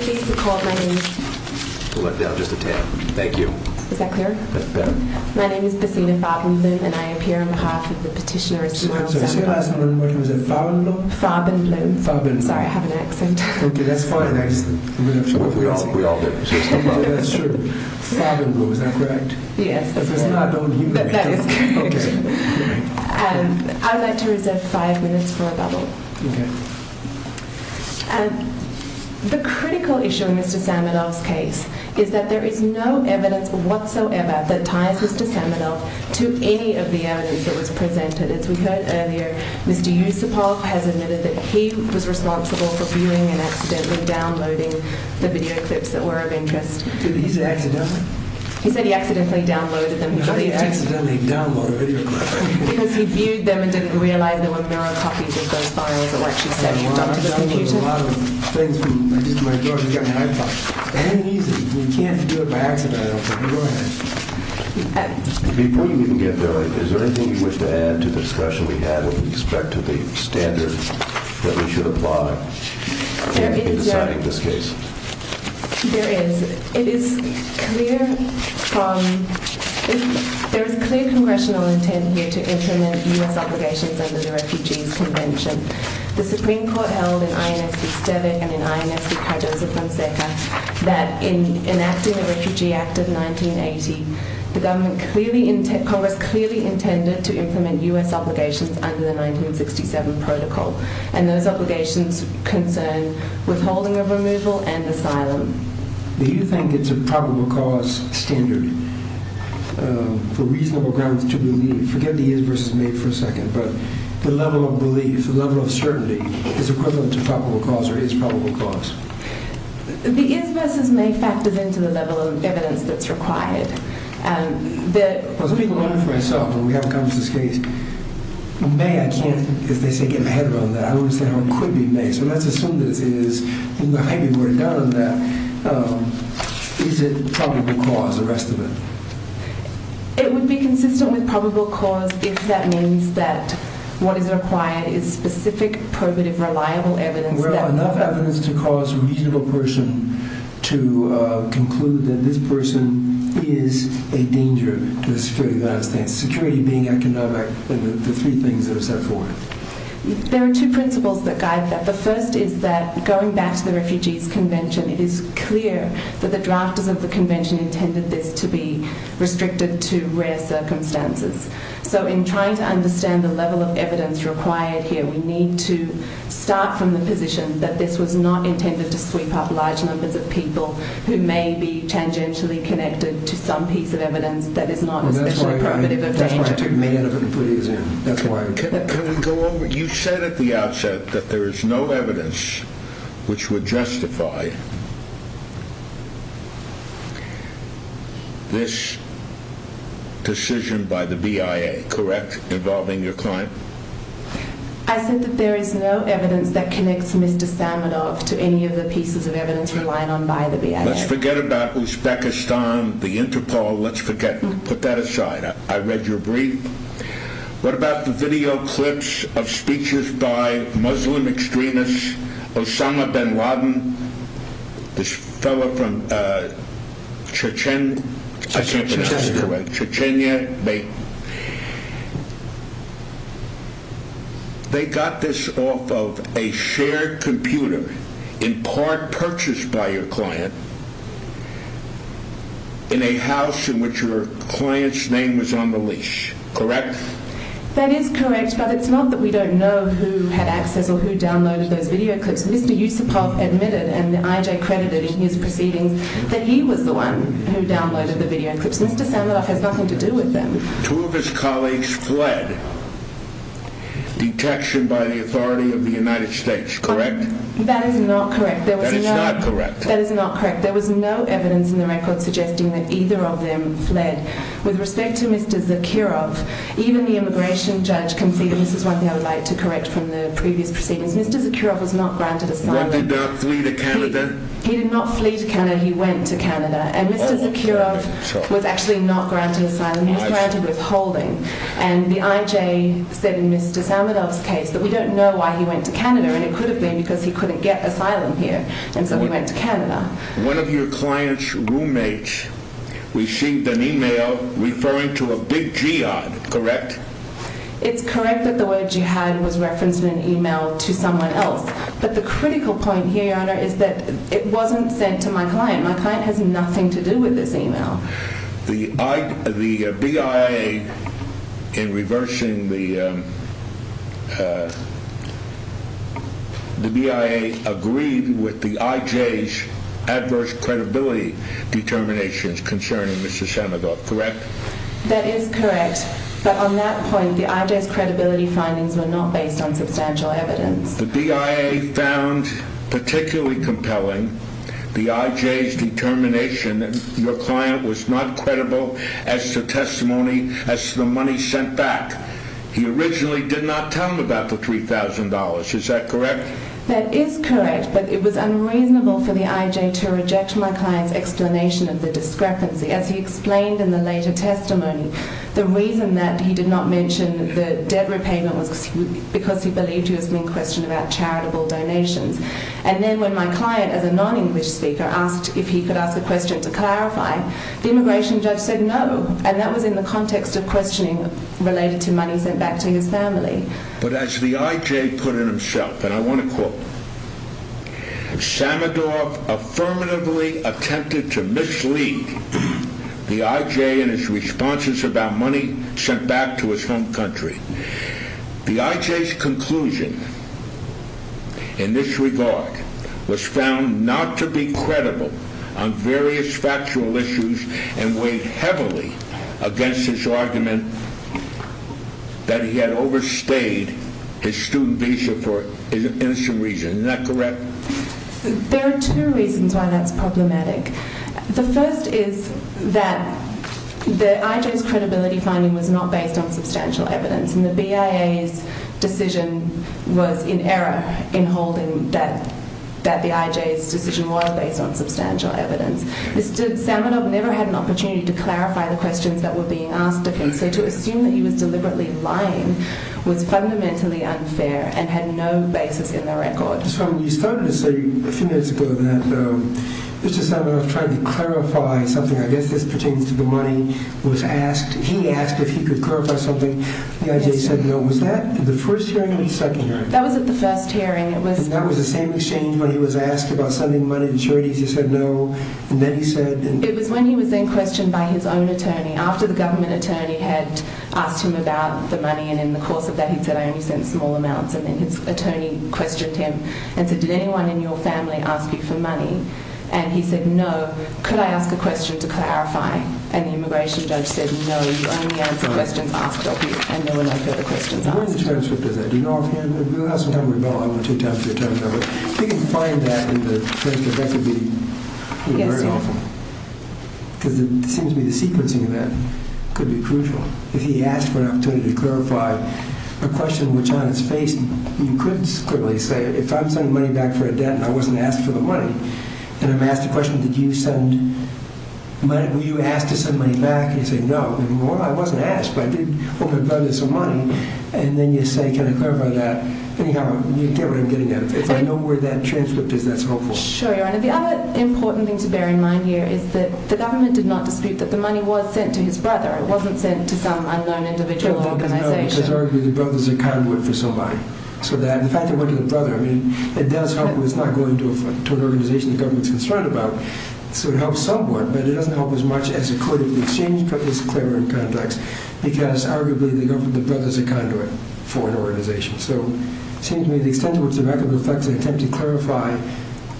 Please record my name. Hold it down just a tad, thank you. Is that clear? That's better. My name is Bessina Fabenloom and I am here on behalf of the petitioner Ismael Sandoval. Is your last name, what is it? Fabenloom? Fabenloom. Fabenloom. Sorry, I have an accent. Okay. That's fine. We all do. That's true. Fabenloom, is that correct? Yes. If it's not, don't use it. That is correct. Okay. I would like to reserve five minutes for a bubble. Okay. The critical issue in Mr. Samadov's case is that there is no evidence whatsoever that ties Mr. Samadov to any of the evidence that was presented. As we heard earlier, Mr. Yusupov has admitted that he was responsible for fueling an accident in which he accidentally downloaded the video clips that were of interest. Did he say accidentally? He said he accidentally downloaded them. How do you accidentally download a video clip? Because he viewed them and didn't realize there were mirror copies of those files or what she said. You've done it to the computer? I've seen a lot of things. I just went to my daughter and got my iPod. It's very easy. You can't do it by accident. I said, go ahead. Before you even get there, is there anything you wish to add to the discussion we had with respect to the standard that we should apply? There is. There is clear congressional intent here to implement U.S. obligations under the Refugees Convention. The Supreme Court held in INS V. Steddick and in INS V. Cardoso-Fonseca that in enacting the Refugee Act of 1980, the government clearly, Congress clearly intended to implement U.S. obligations concern withholding of removal and asylum. Do you think it's a probable cause standard for reasonable grounds to believe? Forget the is versus may for a second, but the level of belief, the level of certainty is equivalent to probable cause or is probable cause? The is versus may factors into the level of evidence that's required. I was thinking about it for myself when we have Congress's case. May, I can't, if they say get my head around that, I don't understand how it could be may. So let's assume this is, maybe we're down on that. Is it probable cause, the rest of it? It would be consistent with probable cause if that means that what is required is specific, probative, reliable evidence. Well, enough evidence to cause a reasonable person to conclude that this person is a danger to the security of the United States. Security being economic, the three things that are set forth. There are two principles that guide that. The first is that going back to the Refugees Convention, it is clear that the drafters of the convention intended this to be restricted to rare circumstances. So in trying to understand the level of evidence required here, we need to start from the position that this was not intended to sweep up large numbers of people who may be tangentially connected to some piece of evidence that is not specific, probative, or dangerous. That's why I took May out of it completely. Can we go over, you said at the outset that there is no evidence which would justify this decision by the BIA, correct? Involving your client? I said that there is no evidence that connects Mr. Samenov to any of the pieces of evidence relying on by the BIA. Let's forget about Uzbekistan, the Interpol, let's forget. Put that aside. I read your brief. What about the video clips of speeches by Muslim extremists, Osama Bin Laden, this fellow from Chechnya, they got this off of a shared computer in part purchased by your client in a house in which your client's name was on the lease, correct? That is correct, but it's not that we don't know who had access or who downloaded those video clips. Mr. Yusupov admitted and IJ credited in his proceedings that he was the one who downloaded the video clips. Mr. Samenov has nothing to do with them. Two of his colleagues fled, detection by the authority of the United States, correct? That is not correct. That is not correct. There was no evidence in the record suggesting that either of them fled. With respect to Mr. Zakirov, even the immigration judge conceded, this is one thing I would like to correct from the previous proceedings, Mr. Zakirov was not granted asylum. He did not flee to Canada. He did not flee to Canada, he went to Canada. And Mr. Zakirov was actually not granted asylum, he was granted withholding. And the IJ said in Mr. Samenov's case that we don't know why he went to Canada and it One of your client's roommates received an email referring to a big jihad, correct? It's correct that the word jihad was referenced in an email to someone else. But the critical point here, Your Honor, is that it wasn't sent to my client. My client has nothing to do with this email. The BIA, in reversing the BIA, agreed with the IJ's adverse credibility determinations concerning Mr. Samenov, correct? That is correct. But on that point, the IJ's credibility findings were not based on substantial evidence. The BIA found particularly compelling the IJ's determination that your client was not credible as to testimony, as to the money sent back. He originally did not tell them about the $3,000, is that correct? That is correct, but it was unreasonable for the IJ to reject my client's explanation of the discrepancy. As he explained in the later testimony, the reason that he did not mention the debt repayment was because he believed he was being questioned about charitable donations. And then when my client, as a non-English speaker, asked if he could ask a question to clarify, the immigration judge said no, and that was in the context of questioning related to money sent back to his family. But as the IJ put it himself, and I want to quote, Samenov affirmatively attempted to mislead the IJ in his responses about money sent back to his home country. The IJ's conclusion in this regard was found not to be credible on various factual issues and weighed heavily against his argument that he had overstayed his student visa for an innocent reason. Is that correct? There are two reasons why that's problematic. The first is that the IJ's credibility finding was not based on substantial evidence, and the BIA's decision was in error in holding that the IJ's decision was based on substantial evidence. Mr. Samenov never had an opportunity to clarify the questions that were being asked of him, so to assume that he was deliberately lying was fundamentally unfair and had no basis in the record. So when you started to say a few minutes ago that Mr. Samenov tried to clarify something, I guess this pertains to the money was asked, he asked if he could clarify something, the IJ said no. Was that the first hearing or the second hearing? That was at the first hearing. And that was the same exchange when he was asked about sending money and charities, he said no, and then he said... It was when he was then questioned by his own attorney, after the government attorney had asked him about the money, and in the course of that he said, I only sent small amounts, and then his attorney questioned him and said, did anyone in your family ask you for money? And he said, no. Could I ask a question to clarify? And the immigration judge said, no, you only answer questions asked of you, and there were no further questions asked of you. Where is the transcript of that? Do you know if you have it? We'll have some time to go over it. If you can find that in the transcript, that would be very helpful. Because it seems to me the sequencing of that could be crucial. If he asked for an opportunity to clarify a question which, on its face, you couldn't simply say, if I'm sending money back for a debt and I wasn't asked for the money, and I'm asked a question, did you send money, were you asked to send money back? And you say, no, well, I wasn't asked, but I did hope it brought me some money, and then you say, can I clarify that? Anyhow, you get what I'm getting at. If I know where that transcript is, that's helpful. Sure, Your Honor. The other important thing to bear in mind here is that the government did not dispute that the money was sent to his brother. It wasn't sent to some unknown individual or organization. It's arguably the brother's a conduit for somebody. So the fact that it went to the brother, I mean, it does help when it's not going to an organization the government's concerned about. So it helps somewhat, but it doesn't help as much as it could if the exchange took this clearer in context, because arguably the brother's a conduit for an organization. So it seems to me the extent to which the record reflects an attempt to clarify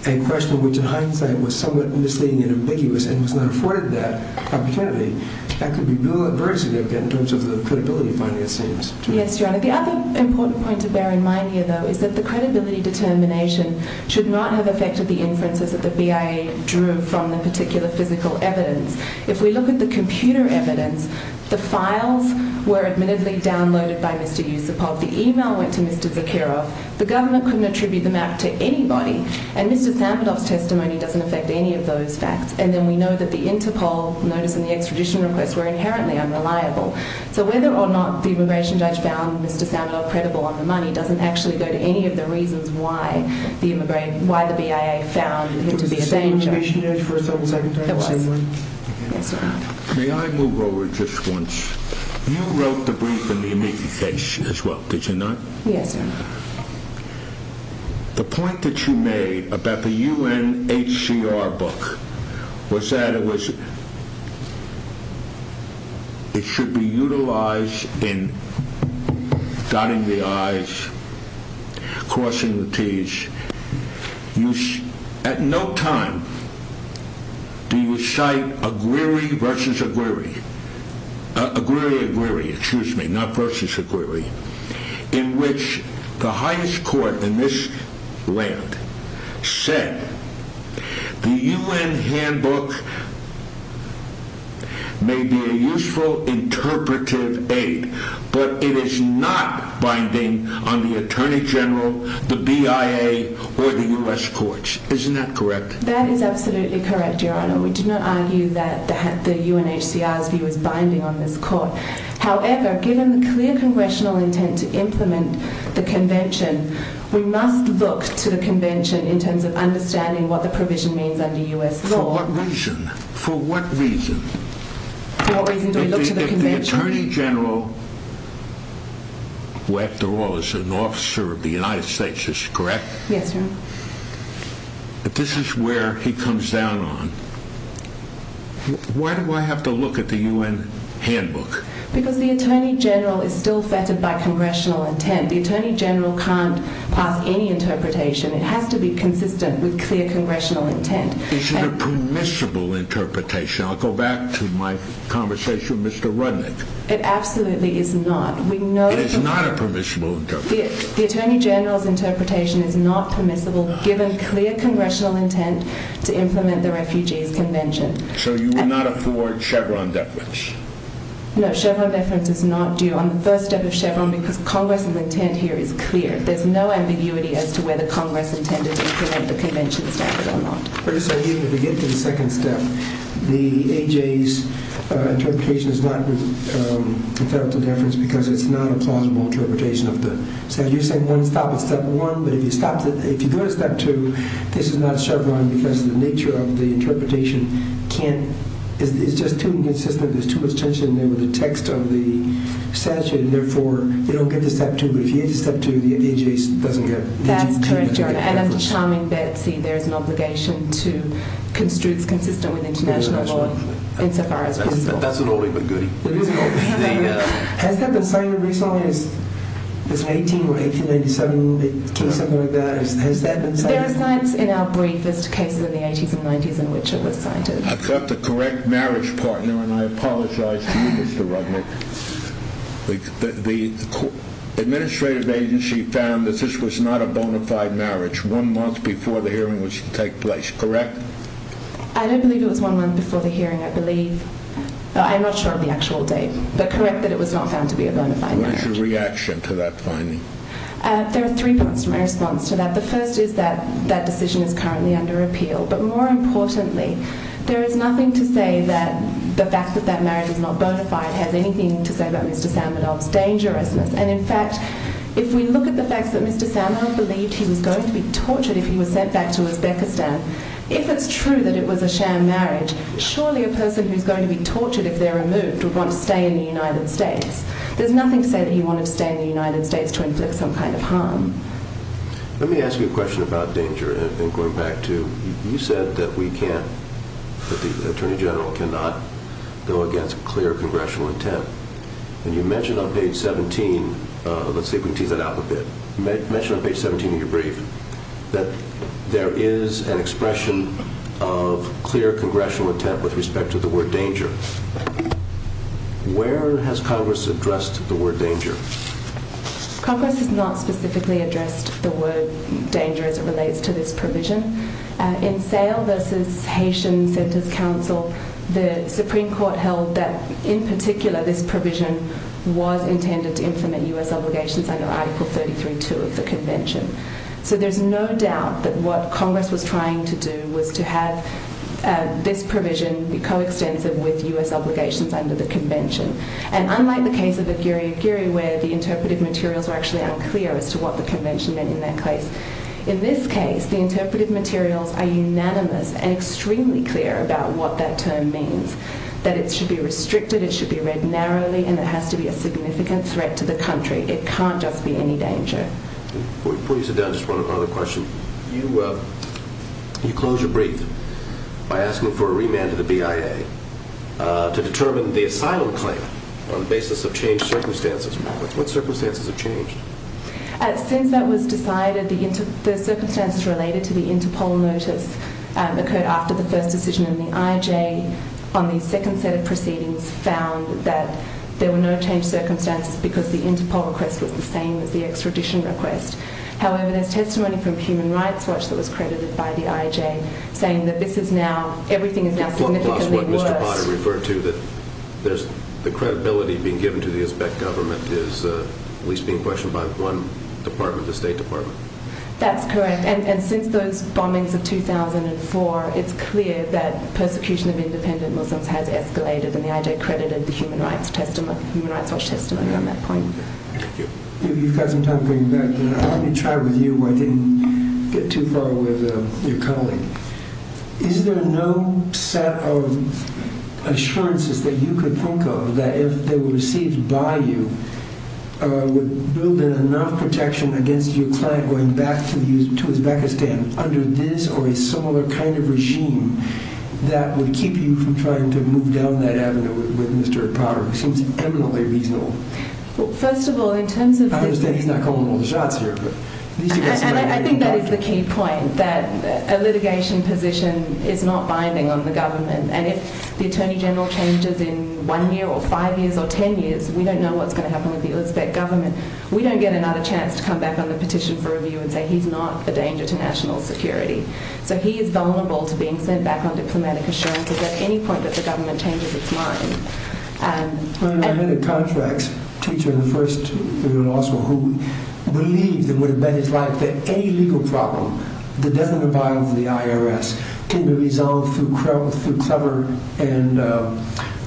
a question which in hindsight was somewhat misleading and ambiguous and was not afforded that opportunity, that could be a real adversity in terms of the credibility finding, it seems. Yes, Your Honor. The other important point to bear in mind here, though, is that the credibility determination should not have affected the inferences that the BIA drew from the particular physical evidence. If we look at the computer evidence, the files were admittedly downloaded by Mr. Yusupov. The email went to Mr. Zakharov. The government couldn't attribute the map to anybody. And Mr. Samadov's testimony doesn't affect any of those facts. And then we know that the Interpol notice and the extradition request were inherently unreliable. So whether or not the immigration judge found Mr. Samadov credible on the money doesn't actually go to any of the reasons why the BIA found him to be a danger. Did you say immigration judge for a second? It was. May I move over just once? You wrote the brief in the immediate case as well, did you not? Yes, Your Honor. The point that you made about the UNHCR book was that it should be utilized in dotting the I's, crossing the T's. At no time do you cite a query versus a query, a query, a query, excuse me, not versus a query, in which the highest court in this land said the UN handbook may be a useful interpretive aid, but it is not binding on the Attorney General, the BIA, or the U.S. courts. Isn't that correct? That is absolutely correct, Your Honor. We do not argue that the UNHCR's view is binding on this court. However, given the clear congressional intent to implement the convention, we must look to the convention in terms of understanding what the provision means under U.S. law. For what reason? For what reason? For what reason do we look to the convention? If the Attorney General, who after all is an officer of the United States, is this correct? Yes, Your Honor. If this is where he comes down on, why do I have to look at the UN handbook? Because the Attorney General is still fettered by congressional intent. The Attorney General can't pass any interpretation. It has to be consistent with clear congressional intent. Is it a permissible interpretation? I'll go back to my conversation with Mr. Rudnick. It absolutely is not. It is not a permissible interpretation. The Attorney General's interpretation is not permissible, given clear congressional intent to implement the Refugees Convention. So you will not afford Chevron deference? No, Chevron deference is not due on the first step of Chevron, because Congress's intent here is clear. There's no ambiguity as to whether Congress intended to implement the convention standard or not. First, I need you to get to the second step. The A.J.'s interpretation is not a federal deference because it's not a plausible interpretation of the statute. You're saying one stop at step one, but if you go to step two, this is not Chevron because of the nature of the interpretation. It's just too inconsistent. There's too much tension there with the text of the statute, and therefore you don't get to step two. But if you get to step two, the A.J.'s doesn't get a federal deference. That's correct, Your Honor, and as a charming Betsy, there's an obligation to constructs consistent with international law insofar as reasonable. That's an oldie but goodie. Has that been cited recently? This 18 or 1897 case, something like that, has that been cited? There are sites in our briefest cases in the 80s and 90s in which it was cited. I've got the correct marriage partner, and I apologize to you, Mr. Rudnick. The administrative agency found that this was not a bona fide marriage one month before the hearing was to take place, correct? I don't believe it was one month before the hearing. I believe, I'm not sure of the actual date, but correct that it was not found to be a bona fide marriage. What is your reaction to that finding? There are three parts to my response to that. The first is that that decision is currently under appeal. But more importantly, there is nothing to say that the fact that that marriage is not bona fide has anything to say about Mr. Samadov's dangerousness. In fact, if we look at the fact that Mr. Samadov believed he was going to be tortured if he was sent back to Uzbekistan, if it's true that it was a sham marriage, surely a person who's going to be tortured if they're removed would want to stay in the United States. There's nothing to say that he wanted to stay in the United States to inflict some kind of harm. Let me ask you a question about danger and going back to, you said that we can't, that the Attorney General cannot go against clear congressional intent. And you mentioned on page 17, let's see if we can tease that out a bit, you mentioned on page 17 of your brief that there is an expression of clear congressional intent with respect to the word danger. Where has Congress addressed the word danger? Congress has not specifically addressed the word danger as it relates to this provision. In Sale v. Haitian Centers Council, the Supreme Court held that, in particular, this provision was intended to implement U.S. obligations under Article 33.2 of the Convention. So there's no doubt that what Congress was trying to do was to have this provision be coextensive with U.S. obligations under the Convention. And unlike the case of Aguirre-Aguirre, where the interpretive materials were actually unclear as to what the Convention meant in that case, in this case, the interpretive materials are unanimous and extremely clear about what that term means, that it should be restricted, it should be read narrowly, and it has to be a significant threat to the country. It can't just be any danger. Before you sit down, just one other question. You close your brief by asking for a remand to the BIA to determine the asylum claim on the basis of changed circumstances. What circumstances have changed? Since that was decided, the circumstances related to the Interpol notice occurred after the first decision in the IJ on the second set of proceedings found that there were no changed circumstances because the Interpol request was the same as the extradition request. However, there's testimony from Human Rights Watch that was credited by the IJ saying that this is now, everything is now significantly worse. What Mr. Potter referred to, that the credibility being given to the Uzbek government is at least being questioned by one department, the State Department. That's correct. And since those bombings of 2004, it's clear that persecution of independent Muslims has escalated and the IJ credited the Human Rights Watch testimony on that point. Thank you. You've got some time coming back. Let me try with you while I didn't get too far with your colleague. Is there no set of assurances that you could think of that if they were received by you, would build in enough protection against your client going back to Uzbekistan under this or a similar kind of regime that would keep you from trying to move down that avenue with Mr. Potter? It seems eminently reasonable. Well, first of all, in terms of- I understand he's not calling all the shots here. I think that is the key point, that a litigation position is not binding on the government. And if the Attorney General changes in one year or five years or ten years, we don't know what's going to happen with the Uzbek government. We don't get another chance to come back on the petition for review and say he's not a danger to national security. So he is vulnerable to being sent back on diplomatic assurances at any point that the government changes its mind. I had a contracts teacher in the first year of law school who believed and would have bet his life that any legal problem that doesn't apply to the IRS can be resolved through cover and a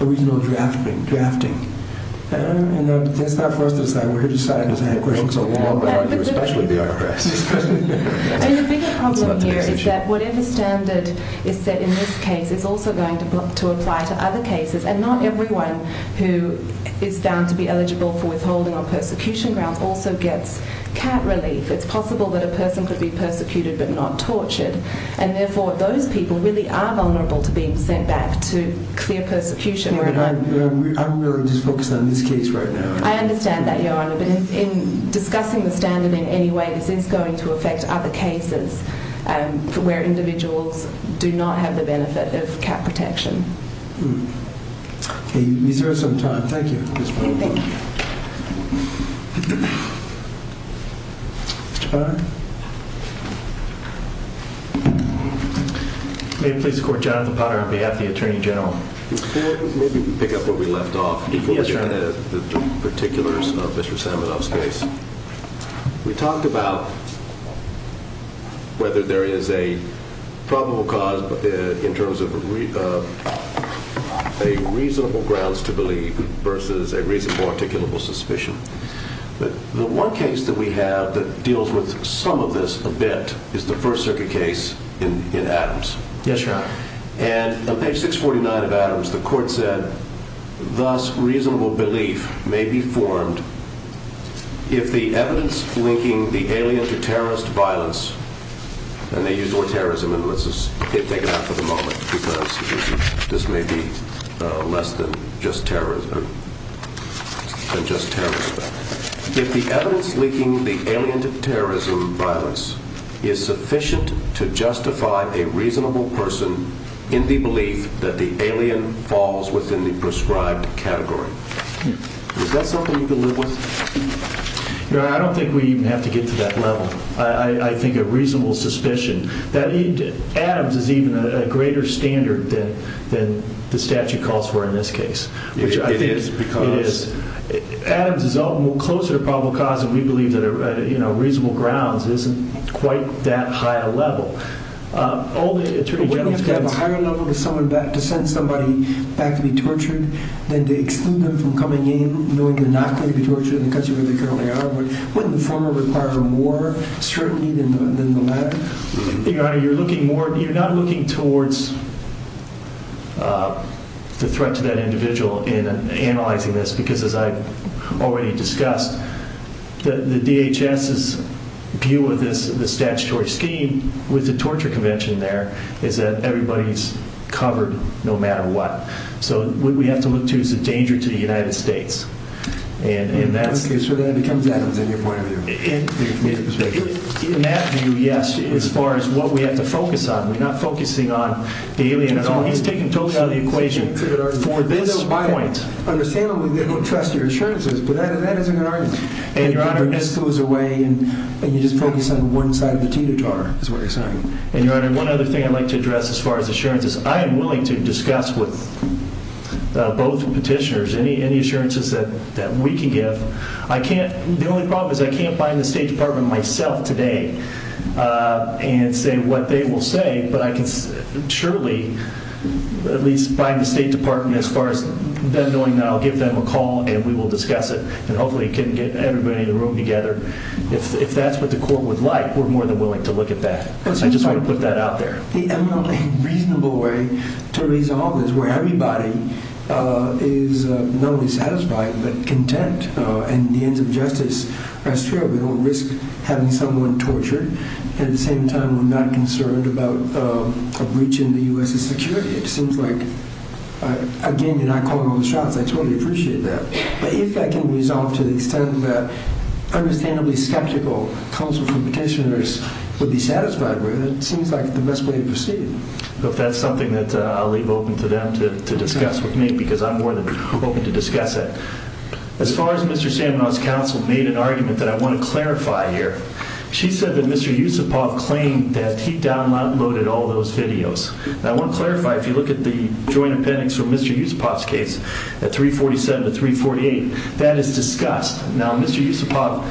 reasonable drafting. And that's not for us to decide. We're here to decide. I don't have questions on the law, but I argue especially with the IRS. And the bigger problem here is that whatever standard is set in this case is also going to apply to other cases. And not everyone who is found to be eligible for withholding on persecution grounds also gets cat relief. It's possible that a person could be persecuted but not tortured. And therefore, those people really are vulnerable to being sent back to clear persecution. I'm really just focused on this case right now. I understand that, Your Honor. But in discussing the standard in any way, this is going to affect other cases where individuals do not have the benefit of cat protection. We deserve some time. Thank you. May it please the Court. Jonathan Potter on behalf of the Attorney General. If you could, maybe you could pick up where we left off. Yes, Your Honor. The particulars of Mr. Saminoff's case. We talked about whether there is a probable cause in terms of a reasonable grounds to believe versus a reasonable articulable suspicion. But the one case that we have that deals with some of this a bit is the First Circuit case in Adams. Yes, Your Honor. And on page 649 of Adams, the Court said, Thus, reasonable belief may be formed if the evidence linking the alien to terrorist violence, and they use the word terrorism, and let's just take it out for the moment because this may be less than just terrorism, than just terrorism. If the evidence linking the alien to terrorism violence is sufficient to justify a reasonable person in the belief that the alien falls within the prescribed category. Is that something you can live with? Your Honor, I don't think we have to get to that level. I think a reasonable suspicion. Adams is even a greater standard than the statute calls for in this case. It is because... Adams is all the more closer to a probable cause than we believe that a reasonable grounds isn't quite that high a level. We don't have to have a higher level to send somebody back to be tortured than to exclude them from coming in knowing they're not going to be tortured in the country where they currently are. Wouldn't the former require more scrutiny than the latter? Your Honor, you're looking more... You're not looking towards the threat to that individual in analyzing this because as I've already discussed, the DHS's view of this statutory scheme with the torture convention there is that everybody's covered no matter what. So what we have to look to is the danger to the United States. Okay, so that becomes Adams in your point of view. In that view, yes, as far as what we have to focus on. We're not focusing on the alien at all. He's taken totally out of the equation. For this point... Understandably, they don't trust your assurances, but that is a good argument. And, Your Honor, this goes away, and you just focus on one side of the teeter-totter, is what you're saying. And, Your Honor, one other thing I'd like to address as far as assurances. I am willing to discuss with both petitioners any assurances that we can give. The only problem is I can't find the State Department myself today and say what they will say, but I can surely at least find the State Department as far as them knowing that I'll give them a call and we will discuss it and hopefully can get everybody in the room together. If that's what the court would like, we're more than willing to look at that. I just want to put that out there. The eminently reasonable way to resolve this where everybody is not only satisfied but content and the ends of justice rest fair. We don't risk having someone tortured. At the same time, we're not concerned about a breach in the U.S. security. It seems like... Again, you're not calling all the shots. I totally appreciate that. But if that can be resolved to the extent that understandably skeptical counsel from petitioners would be satisfied with, then it seems like the best way to proceed. If that's something that I'll leave open to them to discuss with me because I'm more than open to discuss it. As far as Mr. Samenov's counsel made an argument that I want to clarify here, she said that Mr. Yusupov claimed that he downloaded all those videos. I want to clarify if you look at the joint appendix from Mr. Yusupov's case at 347 to 348, that is discussed. Now, Mr. Yusupov,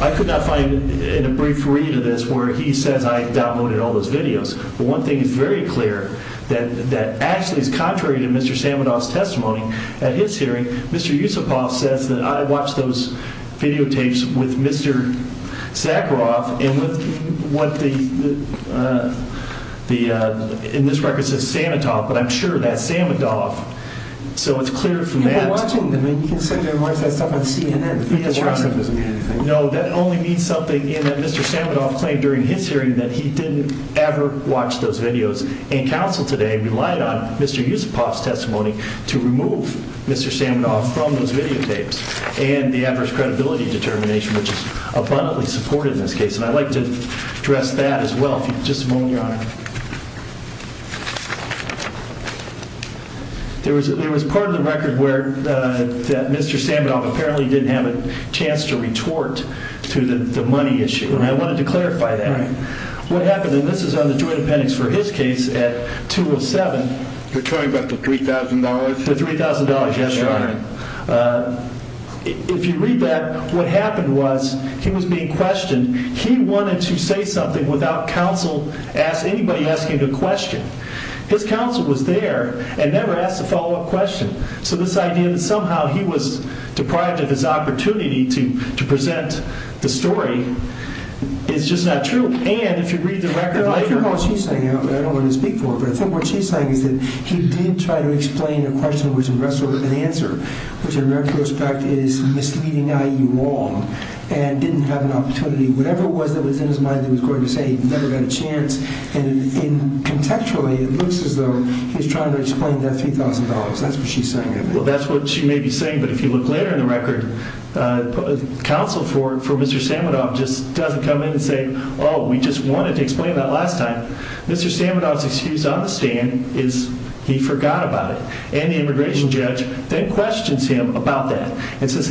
I could not find in a brief read of this where he says I downloaded all those videos. But one thing is very clear, that actually is contrary to Mr. Samenov's testimony. At his hearing, Mr. Yusupov says that I watched those videotapes with Mr. Zakharov and with what the... In this record it says Sametov, but I'm sure that's Samenov. So it's clear from that... You've been watching them. You can send them and watch that stuff on CNN. No, that only means something in that Mr. Samenov claimed during his hearing that he didn't ever watch those videos. And counsel today relied on Mr. Yusupov's testimony to remove Mr. Samenov from those videotapes and the adverse credibility determination, which is abundantly supported in this case. And I'd like to address that as well, if you'd just moment, Your Honor. There was part of the record where Mr. Samenov apparently didn't have a chance to retort to the money issue. And I wanted to clarify that. What happened, and this is on the joint appendix for his case at 207... You're talking about the $3,000? The $3,000, yes, Your Honor. If you read that, what happened was he was being questioned. He wanted to say something without counsel asking, anybody asking a question. His counsel was there and never asked a follow-up question. So this idea that somehow he was deprived of his opportunity to present the story is just not true. And if you read the record later... I don't know what she's saying. I don't want to speak for her. But I think what she's saying is that he did try to explain a question which in retrospect was an answer, which in retrospect is misleading, i.e., wrong, and didn't have an opportunity. Whatever it was that was in his mind that he was going to say, he never got a chance. And contextually, it looks as though he's trying to explain that $3,000. That's what she's saying. That's what she may be saying, but if you look later in the record, counsel for Mr. Samudov just doesn't come in and say, oh, we just wanted to explain that last time. Mr. Samudov's excuse on the stand is he forgot about it. And the immigration judge then questions him about that and says,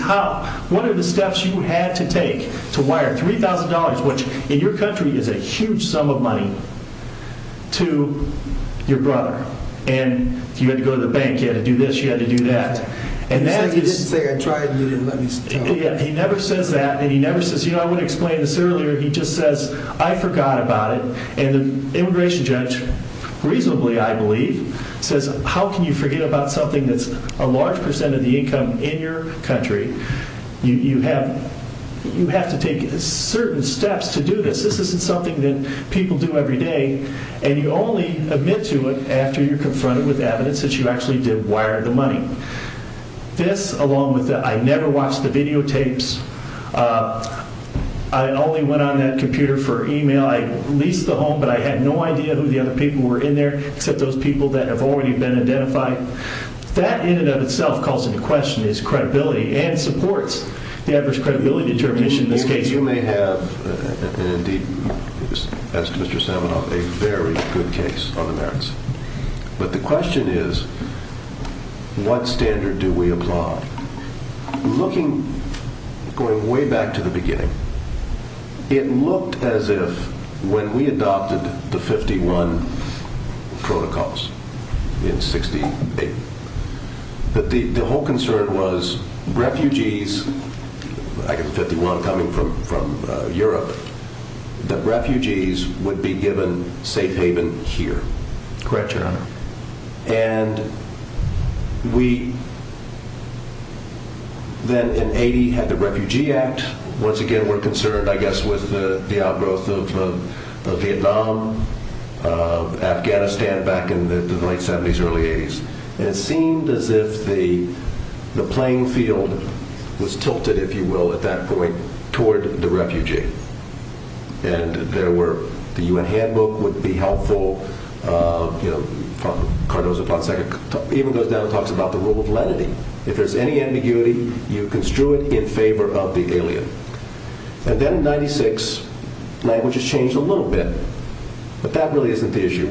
what are the steps you had to take to wire $3,000, which in your country is a huge sum of money, to your brother? And you had to go to the bank. You had to do this. You had to do that. He never says that, and he never says, you know, I would have explained this earlier. He just says, I forgot about it. And the immigration judge, reasonably, I believe, says, how can you forget about something that's a large percent of the income in your country? You have to take certain steps to do this. This isn't something that people do every day. And you only admit to it after you're confronted with evidence that you actually did wire the money. This, along with the I never watched the videotapes, I only went on that computer for e-mail. I leased the home, but I had no idea who the other people were in there except those people that have already been identified. That, in and of itself, calls into question his credibility and supports the adverse credibility determination in this case. You may have, indeed, as to Mr. Samenov, a very good case on the merits. But the question is, what standard do we apply? Looking, going way back to the beginning, it looked as if when we adopted the 51 protocols in 68, that the whole concern was refugees. I get the 51 coming from Europe. The refugees would be given safe haven here. Correct, Your Honor. And we then in 80 had the Refugee Act. Once again, we're concerned, I guess, with the outgrowth of Vietnam, Afghanistan back in the late 70s, early 80s. And it seemed as if the playing field was tilted, if you will, at that point toward the refugee. And there were, the U.N. Handbook would be helpful. Cardozo-Ponsec even goes down and talks about the rule of lenity. If there's any ambiguity, you construe it in favor of the alien. And then in 96, language has changed a little bit. But that really isn't the issue.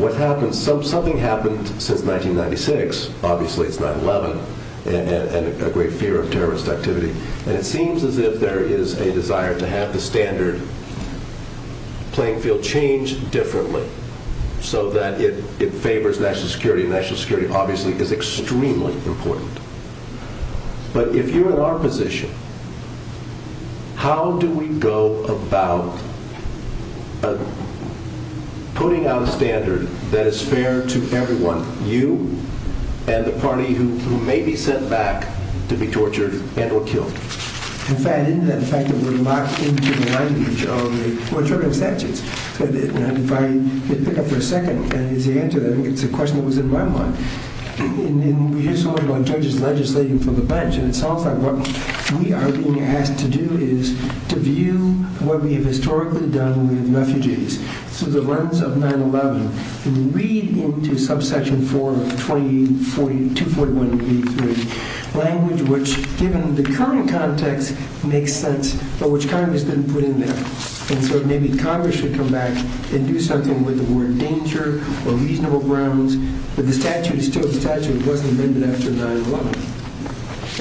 Something happened since 1996. Obviously, it's 9-11 and a great fear of terrorist activity. And it seems as if there is a desire to have the standard playing field change differently so that it favors national security. National security, obviously, is extremely important. But if you're in our position, how do we go about putting out a standard that is fair to everyone, you and the party who may be sent back to be tortured and or killed? In fact, isn't that a fact that we're locked into the language of the torturing statutes? If I pick up for a second, and it's the answer, I think it's a question that was in my mind. And we just heard one judge legislating for the bench. And it sounds like what we are being asked to do is to view what we have historically done with refugees through the lens of 9-11 and read into subsection 4 of 241b3, language which, given the current context, makes sense, but which Congress didn't put in there. And so maybe Congress should come back and do something with the word danger or reasonable grounds. But the statute is still a statute that wasn't amended after 9-11.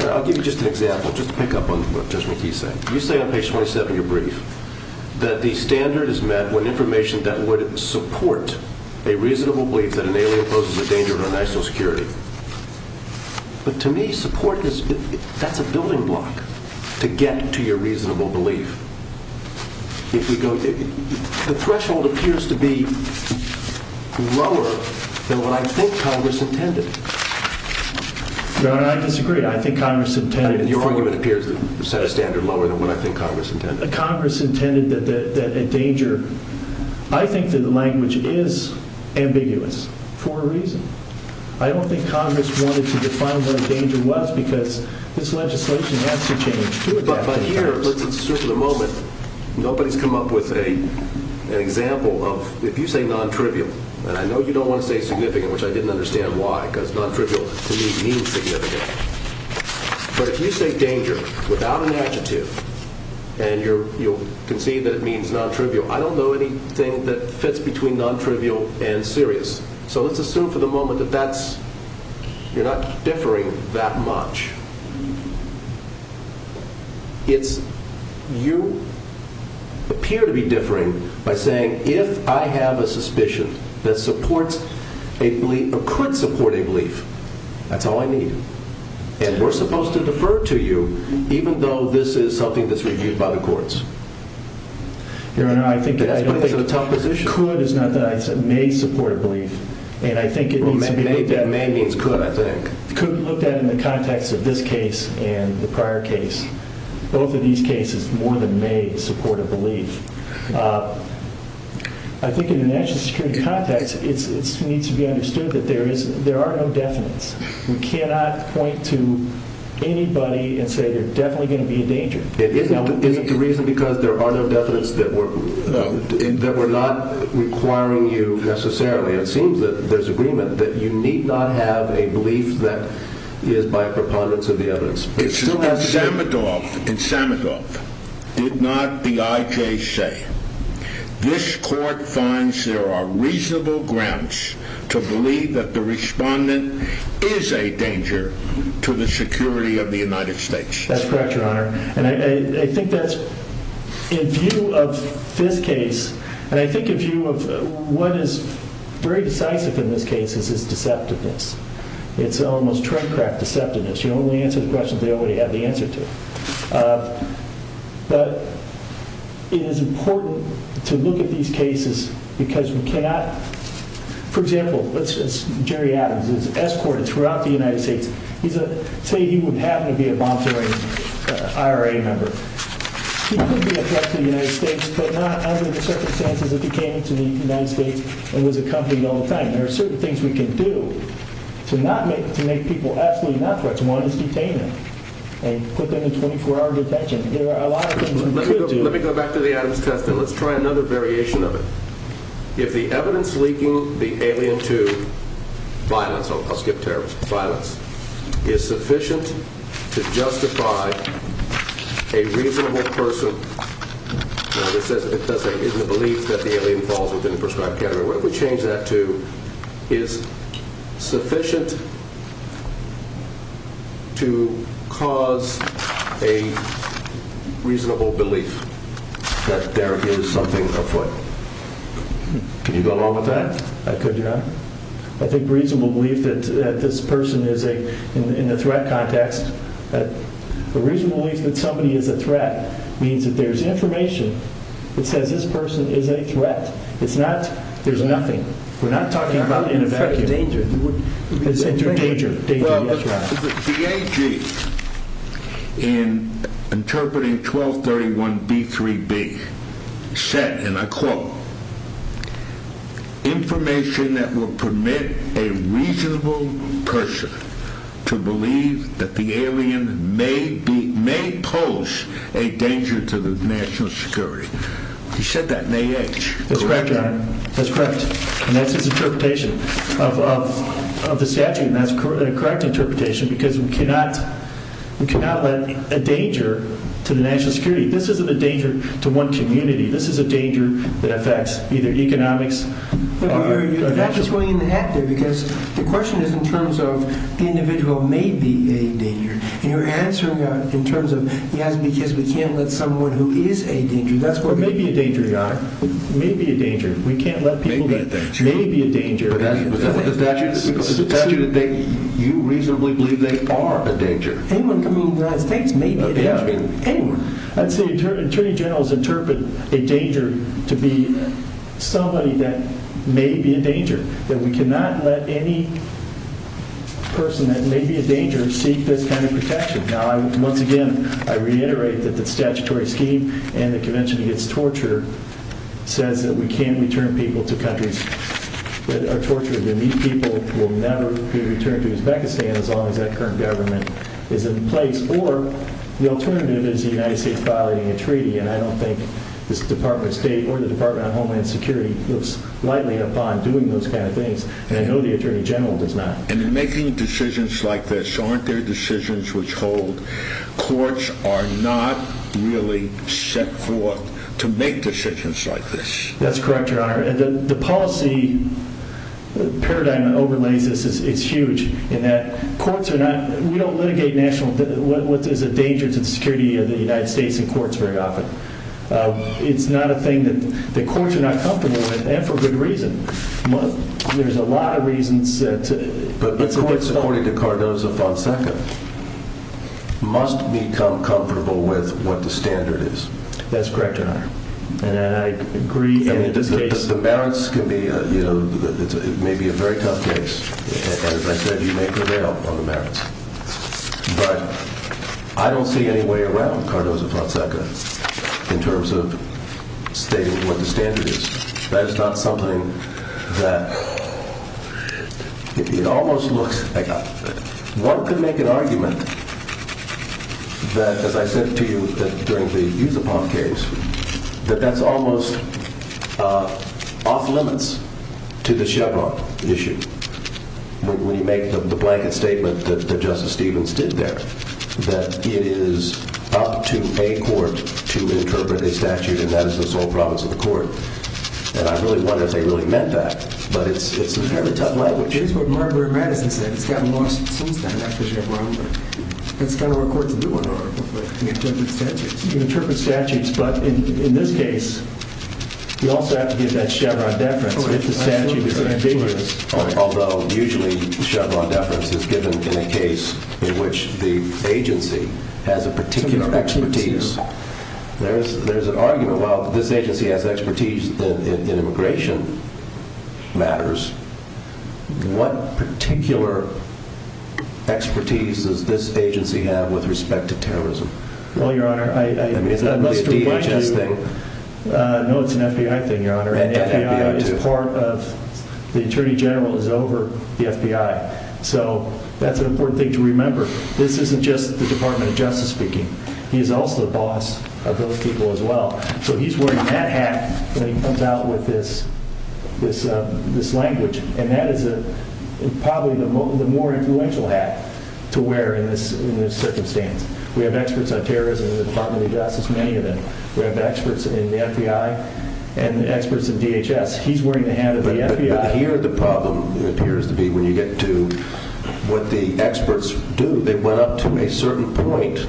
I'll give you just an example, just to pick up on what Judge McKee is saying. You say on page 27 of your brief that the standard is met when information that would support a reasonable belief that an alien poses a danger to our national security. But to me, support, that's a building block to get to your reasonable belief. The threshold appears to be lower than what I think Congress intended. Your Honor, I disagree. I think Congress intended... Your argument appears to set a standard lower than what I think Congress intended. Congress intended that a danger... I think that the language is ambiguous for a reason. I don't think Congress wanted to define what a danger was because this legislation has to change. But here, let's assume for the moment, nobody's come up with an example of... If you say non-trivial, and I know you don't want to say significant, which I didn't understand why, because non-trivial to me means significant. But if you say danger without an adjective, and you'll concede that it means non-trivial, I don't know anything that fits between non-trivial and serious. So let's assume for the moment that you're not differing that much. You appear to be differing by saying, if I have a suspicion that supports a belief, or could support a belief, that's all I need. And we're supposed to defer to you, even though this is something that's reviewed by the courts. Your Honor, I think... That's putting us in a tough position. Could is not that. I said may support a belief. And I think it needs to be looked at... Well, may means could, I think. Could be looked at in the context of this case and the prior case. Both of these cases more than may support a belief. I think in the national security context, it needs to be understood that there are no definites. We cannot point to anybody and say you're definitely going to be in danger. Isn't the reason because there are no definites that we're not requiring you necessarily? It seems that there's agreement that you need not have a belief that is by preponderance of the evidence. It still has to be... In Samadov, did not the IJ say, this court finds there are reasonable grounds to believe that the respondent is a danger to the security of the United States? That's correct, Your Honor. And I think that's in view of this case. And I think if you have... What is very decisive in this case is deceptiveness. It's almost tradecraft deceptiveness. You only answer the questions they already have the answer to. But it is important to look at these cases because we cannot... For example, let's just... Jerry Adams is escorted throughout the United States. He's a... Say he would happen to be a monitoring IRA member. He could be a threat to the United States, but not under the circumstances that he came to the United States and was accompanied all the time. There are certain things we can do to make people absolutely not threats. One is detain them and put them in 24-hour detention. There are a lot of things we could do. Let me go back to the Adams test and let's try another variation of it. If the evidence leaking the alien to violence... I'll skip terrorism. Violence is sufficient to justify a reasonable person... Now, this says in the belief that the alien falls within the prescribed category. What if we change that to... Sufficient to cause a reasonable belief that there is something afoot. Can you go along with that? I could, yeah. I think reasonable belief that this person is a... In the threat context... A reasonable belief that somebody is a threat means that there's information that says this person is a threat. It's not... There's nothing. We're not talking about... It's a danger. Well, the DAG in interpreting 1231B3B said, and I quote, information that will permit a reasonable person to believe that the alien may pose a danger to the national security. He said that in AH, correct? That's correct. And that's his interpretation of the statute. And that's a correct interpretation because we cannot let a danger to the national security. This isn't a danger to one community. This is a danger that affects either economics or national security. You're going in the hat there because the question is in terms of the individual may be a danger. And you're answering in terms of, yes, because we can't let someone who is a danger... That's what... May be a danger, yeah. May be a danger. We can't let people... May be a danger. May be a danger. But that's what the statute... The statute that they... You reasonably believe they are a danger. Anyone can move their eyes. Tanks may be a danger. Yeah. Anyone. I'd say attorney generals interpret a danger to be somebody that may be a danger, that we cannot let any person that may be a danger seek this kind of protection. Now, once again, I reiterate that the statutory scheme and the Convention Against Torture says that we can't return people to countries that are tortured, and these people will never be returned to Uzbekistan as long as that current government is in place. Or the alternative is the United States violating a treaty, and I don't think this Department of State or the Department of Homeland Security looks lightly upon doing those kind of things, and I know the attorney general does not. And in making decisions like this, aren't there decisions which hold? Courts are not really set forth to make decisions like this. That's correct, Your Honor. The policy paradigm that overlays this is huge in that courts are not... We don't litigate national... What is a danger to the security of the United States in courts very often. It's not a thing that the courts are not comfortable with, and for good reason. There's a lot of reasons to... But the courts, according to Cardozo-Fonseca, must become comfortable with what the standard is. That's correct, Your Honor, and I agree... The merits can be... It may be a very tough case, and as I said, you may prevail on the merits. But I don't see any way around Cardozo-Fonseca in terms of stating what the standard is. That is not something that... It almost looks like... One could make an argument that, as I said to you during the Yusupov case, that that's almost off-limits to the Chevron issue, when you make the blanket statement that Justice Stevens did there, that it is up to a court to interpret a statute, and that is the sole province of the court. And I really wonder if they really meant that. But it's a fairly tough language. It is what Marbury-Madison said. It's gotten lost since then, actually, Your Honor. It's kind of where courts in New Orleans are. You interpret statutes. You interpret statutes, but in this case, you also have to give that Chevron deference, if the statute is ambiguous. Although usually Chevron deference is given in a case in which the agency has a particular expertise. There's an argument about this agency has expertise in immigration matters. What particular expertise does this agency have with respect to terrorism? Well, Your Honor, I must remind you... I mean, is that a DHS thing? No, it's an FBI thing, Your Honor. The FBI is part of the Attorney General is over the FBI. So that's an important thing to remember. This isn't just the Department of Justice speaking. He is also the boss of those people as well. So he's wearing that hat when he comes out with this language, and that is probably the more influential hat to wear in this circumstance. We have experts on terrorism in the Department of Justice, many of them. We have experts in the FBI and experts in DHS. He's wearing the hat of the FBI. But here the problem appears to be when you get to what the experts do, they went up to a certain point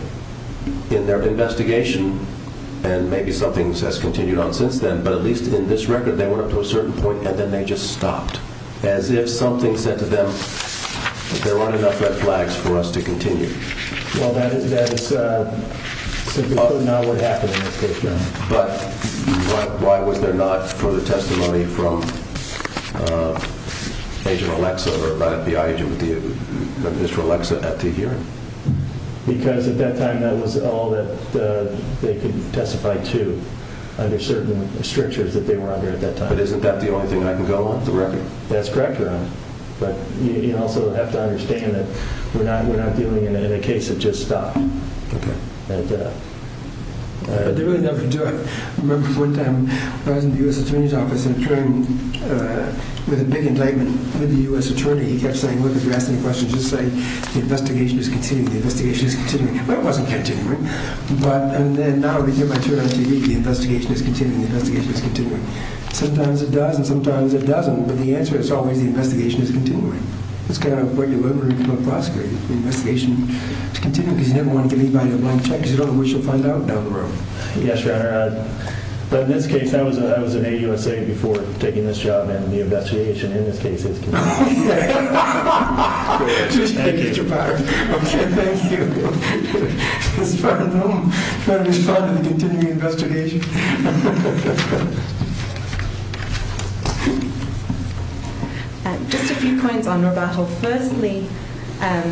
in their investigation, and maybe something has continued on since then, but at least in this record they went up to a certain point and then they just stopped, as if something said to them that there aren't enough red flags for us to continue. Well, that is simply not what happened in this case, Your Honor. But why was there not further testimony from Agent Alexa or the FBI agent with you, Mr. Alexa, at the hearing? Because at that time that was all that they could testify to under certain restrictions that they were under at that time. But isn't that the only thing I can go on with the record? That's correct, Your Honor. But you also have to understand that we're not dealing in a case that just stopped. Okay. And they really never did. I remember one time when I was in the U.S. Attorney's Office and with a big indictment with the U.S. Attorney, he kept saying, look, if you ask any questions, just say the investigation is continuing, the investigation is continuing. Well, it wasn't continuing. But now we get my turn on TV, the investigation is continuing, the investigation is continuing. Sometimes it does and sometimes it doesn't, but the answer is always the investigation is continuing. That's kind of the way to deliver a prosecutor. The investigation is continuing because you never want to give anybody a blank check because you don't know what you'll find out down the road. Yes, Your Honor. But in this case, that was an AUSA before taking this job, and the investigation in this case is continuing. Okay. Thank you. Okay. Thank you. Just trying to respond to the continuing investigation. Thank you. Just a few points on rebuttal. Firstly, I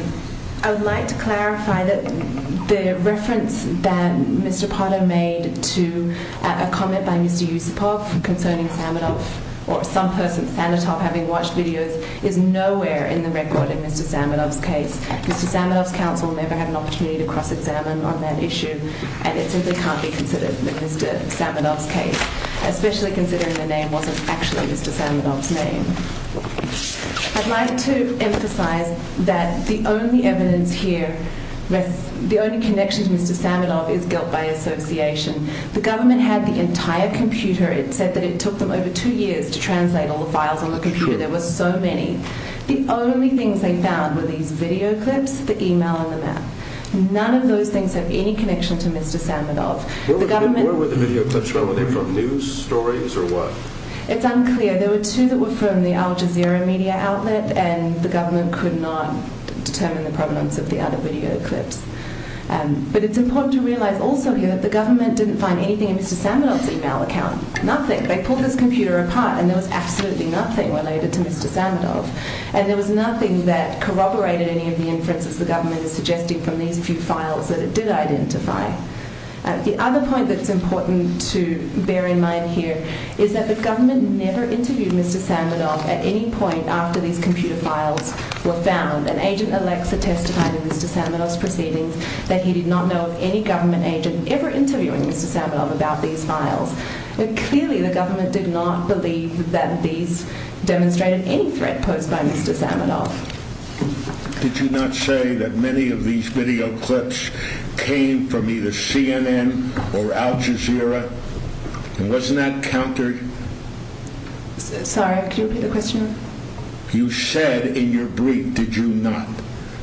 would like to clarify that the reference that Mr. Potter made to a comment by Mr. Yusupov concerning Saminov or some person at Sanitop having watched videos is nowhere in the record in Mr. Saminov's case. Mr. Saminov's counsel never had an opportunity to cross-examine on that issue, and it simply can't be considered in Mr. Saminov's case, especially considering the name wasn't actually Mr. Saminov's name. I'd like to emphasize that the only evidence here, the only connection to Mr. Saminov is guilt by association. The government had the entire computer. It said that it took them over two years to translate all the files on the computer. There were so many. The only things they found were these video clips, the email, and the map. None of those things have any connection to Mr. Saminov. Where were the video clips from? Were they from news stories or what? It's unclear. There were two that were from the Al Jazeera media outlet, and the government could not determine the provenance of the other video clips. But it's important to realize also here that the government didn't find anything in Mr. Saminov's email account, nothing. They pulled this computer apart, and there was absolutely nothing related to Mr. Saminov, and there was nothing that corroborated any of the inferences the government is suggesting from these few files that it did identify. The other point that's important to bear in mind here is that the government never interviewed Mr. Saminov at any point after these computer files were found, and Agent Alexa testified in Mr. Saminov's proceedings that he did not know of any government agent ever interviewing Mr. Saminov about these files. Clearly, the government did not believe that these demonstrated any threat posed by Mr. Saminov. Did you not say that many of these video clips came from either CNN or Al Jazeera? And wasn't that countered? Sorry, could you repeat the question? You said in your brief, did you not,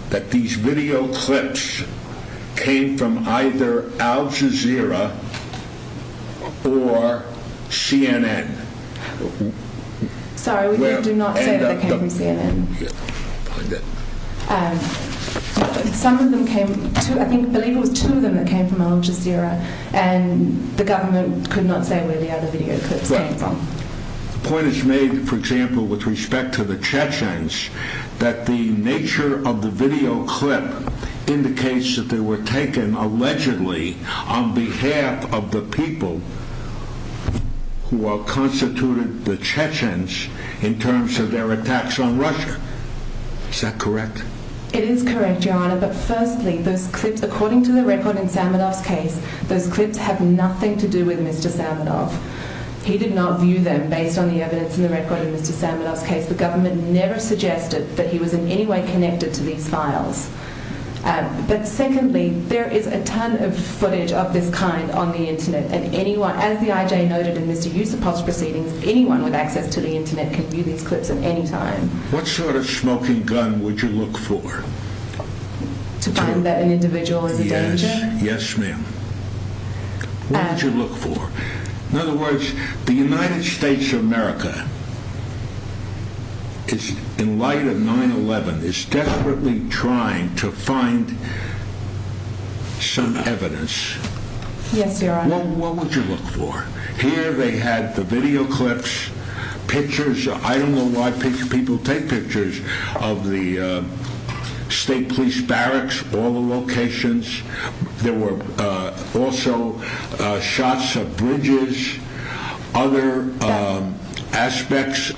that these video clips came from either Al Jazeera or CNN? Sorry, we do not say that they came from CNN. Some of them came, I believe it was two of them that came from Al Jazeera, and the government could not say where the other video clips came from. The point is made, for example, with respect to the Chechens, that the nature of the video clip indicates that they were taken allegedly on behalf of the people who are constituted the Chechens in terms of their attacks on Russia. Is that correct? It is correct, Your Honor, but firstly, those clips, according to the record in Saminov's case, those clips have nothing to do with Mr. Saminov. He did not view them based on the evidence in the record in Mr. Saminov's case. The government never suggested that he was in any way connected to these files. But secondly, there is a ton of footage of this kind on the Internet, and as the IJ noted in Mr. Yusupov's proceedings, anyone with access to the Internet can view these clips at any time. What sort of smoking gun would you look for? To find that an individual is in danger? Yes, ma'am. What would you look for? In other words, the United States of America, in light of 9-11, is desperately trying to find some evidence. Yes, Your Honor. What would you look for? Here they had the video clips, pictures. I don't know why people take pictures of the state police barracks, all the locations. There were also shots of bridges, other aspects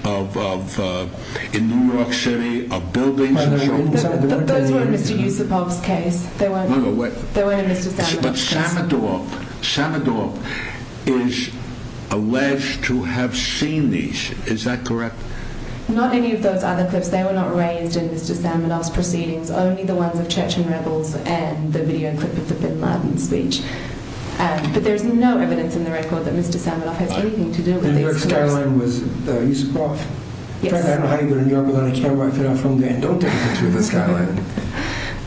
in New York City, of buildings and so on. Those were in Mr. Yusupov's case. They weren't in Mr. Saminov's case. But Samadorp is alleged to have seen these, is that correct? Not any of those other clips. They were not raised in Mr. Saminov's proceedings. Only the ones of Chechen rebels and the video clip of the bin Laden speech. But there's no evidence in the record that Mr. Saminov has anything to do with these murders. New York skyline was Yusupov. Yes, Your Honor. Don't take me to the skyline.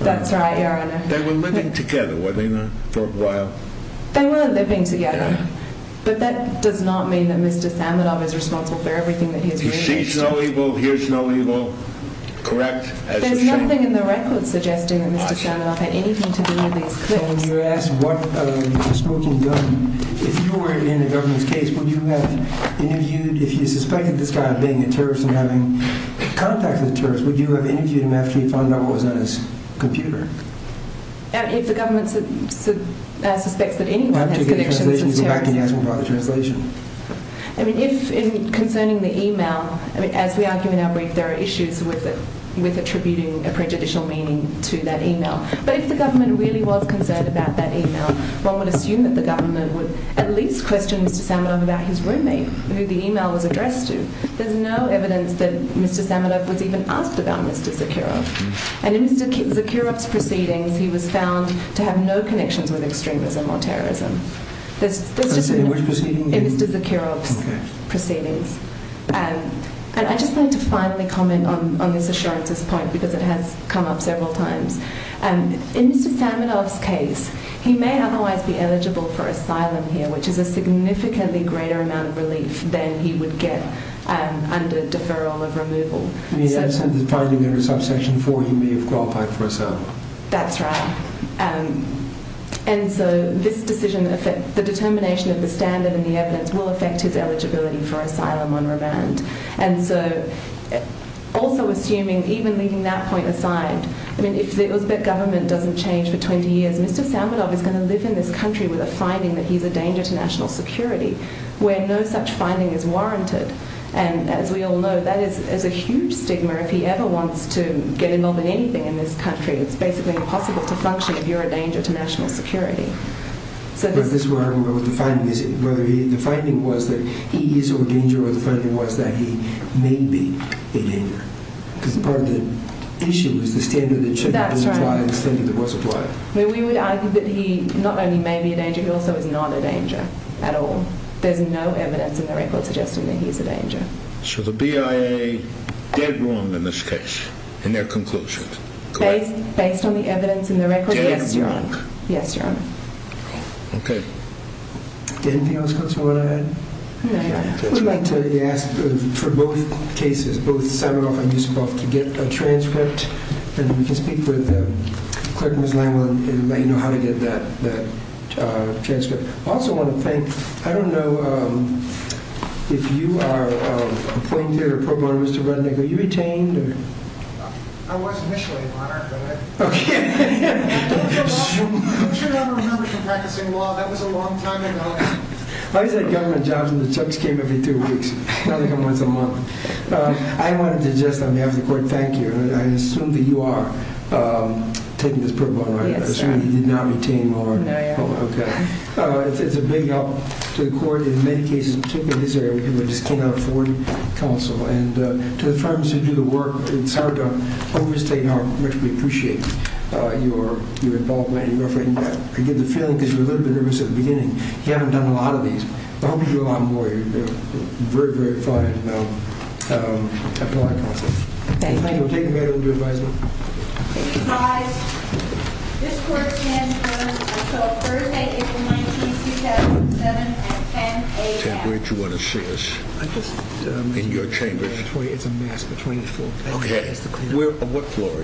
That's right, Your Honor. They were living together, were they not, for a while? They were living together. But that does not mean that Mr. Saminov is responsible for everything that he has done. He sees no evil, hears no evil, correct? There's nothing in the record suggesting that Mr. Saminov had anything to do with these clips. So when you ask what smoking gun, if you were in a government's case, would you have interviewed, if you suspected this guy of being a terrorist and having contacted the terrorists, would you have interviewed him after you found out what was on his computer? If the government suspects that anyone has connections as terrorists. You go back and ask him about the translation. I mean, if concerning the e-mail, as we argue in our brief, there are issues with attributing a prejudicial meaning to that e-mail. But if the government really was concerned about that e-mail, one would assume that the government would at least question Mr. Saminov about his roommate, who the e-mail was addressed to. There's no evidence that Mr. Saminov was even asked about Mr. Zakharov. And in Mr. Zakharov's proceedings, he was found to have no connections with extremism or terrorism. In which proceedings? In Mr. Zakharov's proceedings. And I just want to finally comment on Ms. Assurance's point, because it has come up several times. In Mr. Saminov's case, he may otherwise be eligible for asylum here, which is a significantly greater amount of relief than he would get under deferral of removal. You mean, finding him under subsection 4, he may have qualified for asylum? That's right. And so, this decision, the determination of the standard and the evidence will affect his eligibility for asylum on remand. And so, also assuming, even leaving that point aside, I mean, if the Uzbek government doesn't change for 20 years, Mr. Saminov is going to live in this country with a finding that he's a danger to national security, where no such finding is warranted. And as we all know, that is a huge stigma. If he ever wants to get involved in anything in this country, it's basically impossible to function if you're a danger to national security. But this is where I'm going with the finding. The finding was that he is a danger, or the finding was that he may be a danger. Because part of the issue is the standard that shouldn't be applied, the standard that was applied. We would argue that he not only may be a danger, he also is not a danger at all. There's no evidence in the record suggesting that he's a danger. So the BIA, dead wrong in this case, in their conclusions. Based on the evidence in the record? Dead wrong. Yes, Your Honor. Okay. Anything else you want to add? No, Your Honor. We'd like to ask for both cases, both Saminov and Yusupov, to get a transcript, and we can speak with Clerk Ms. Langwood and let you know how to get that transcript. I also want to thank, I don't know if you are appointed or pro bono, Mr. Rudnick, are you retained? I was initially, Your Honor. Okay. You should remember from practicing law, that was a long time ago. I was at government jobs and the checks came every two weeks, not every once a month. I wanted to just, on behalf of the court, thank you. I assume that you are taking this pro bono. Yes, sir. I assume you did not retain more. No, Your Honor. Okay. It's a big help to the court in many cases, particularly his area, and to the firms who do the work, it's hard to overstate how much we appreciate your involvement. I get the feeling, because you were a little bit nervous at the beginning, you haven't done a lot of these. I hope you do a lot more. You're very, very fine. Thank you. Thank you. We'll take a minute with your advisement. This court stands adjourned until Thursday, April 19, 2007 at 10 a.m. Where do you want to see us? In your chambers. It's a mess between the four. What floor are you on?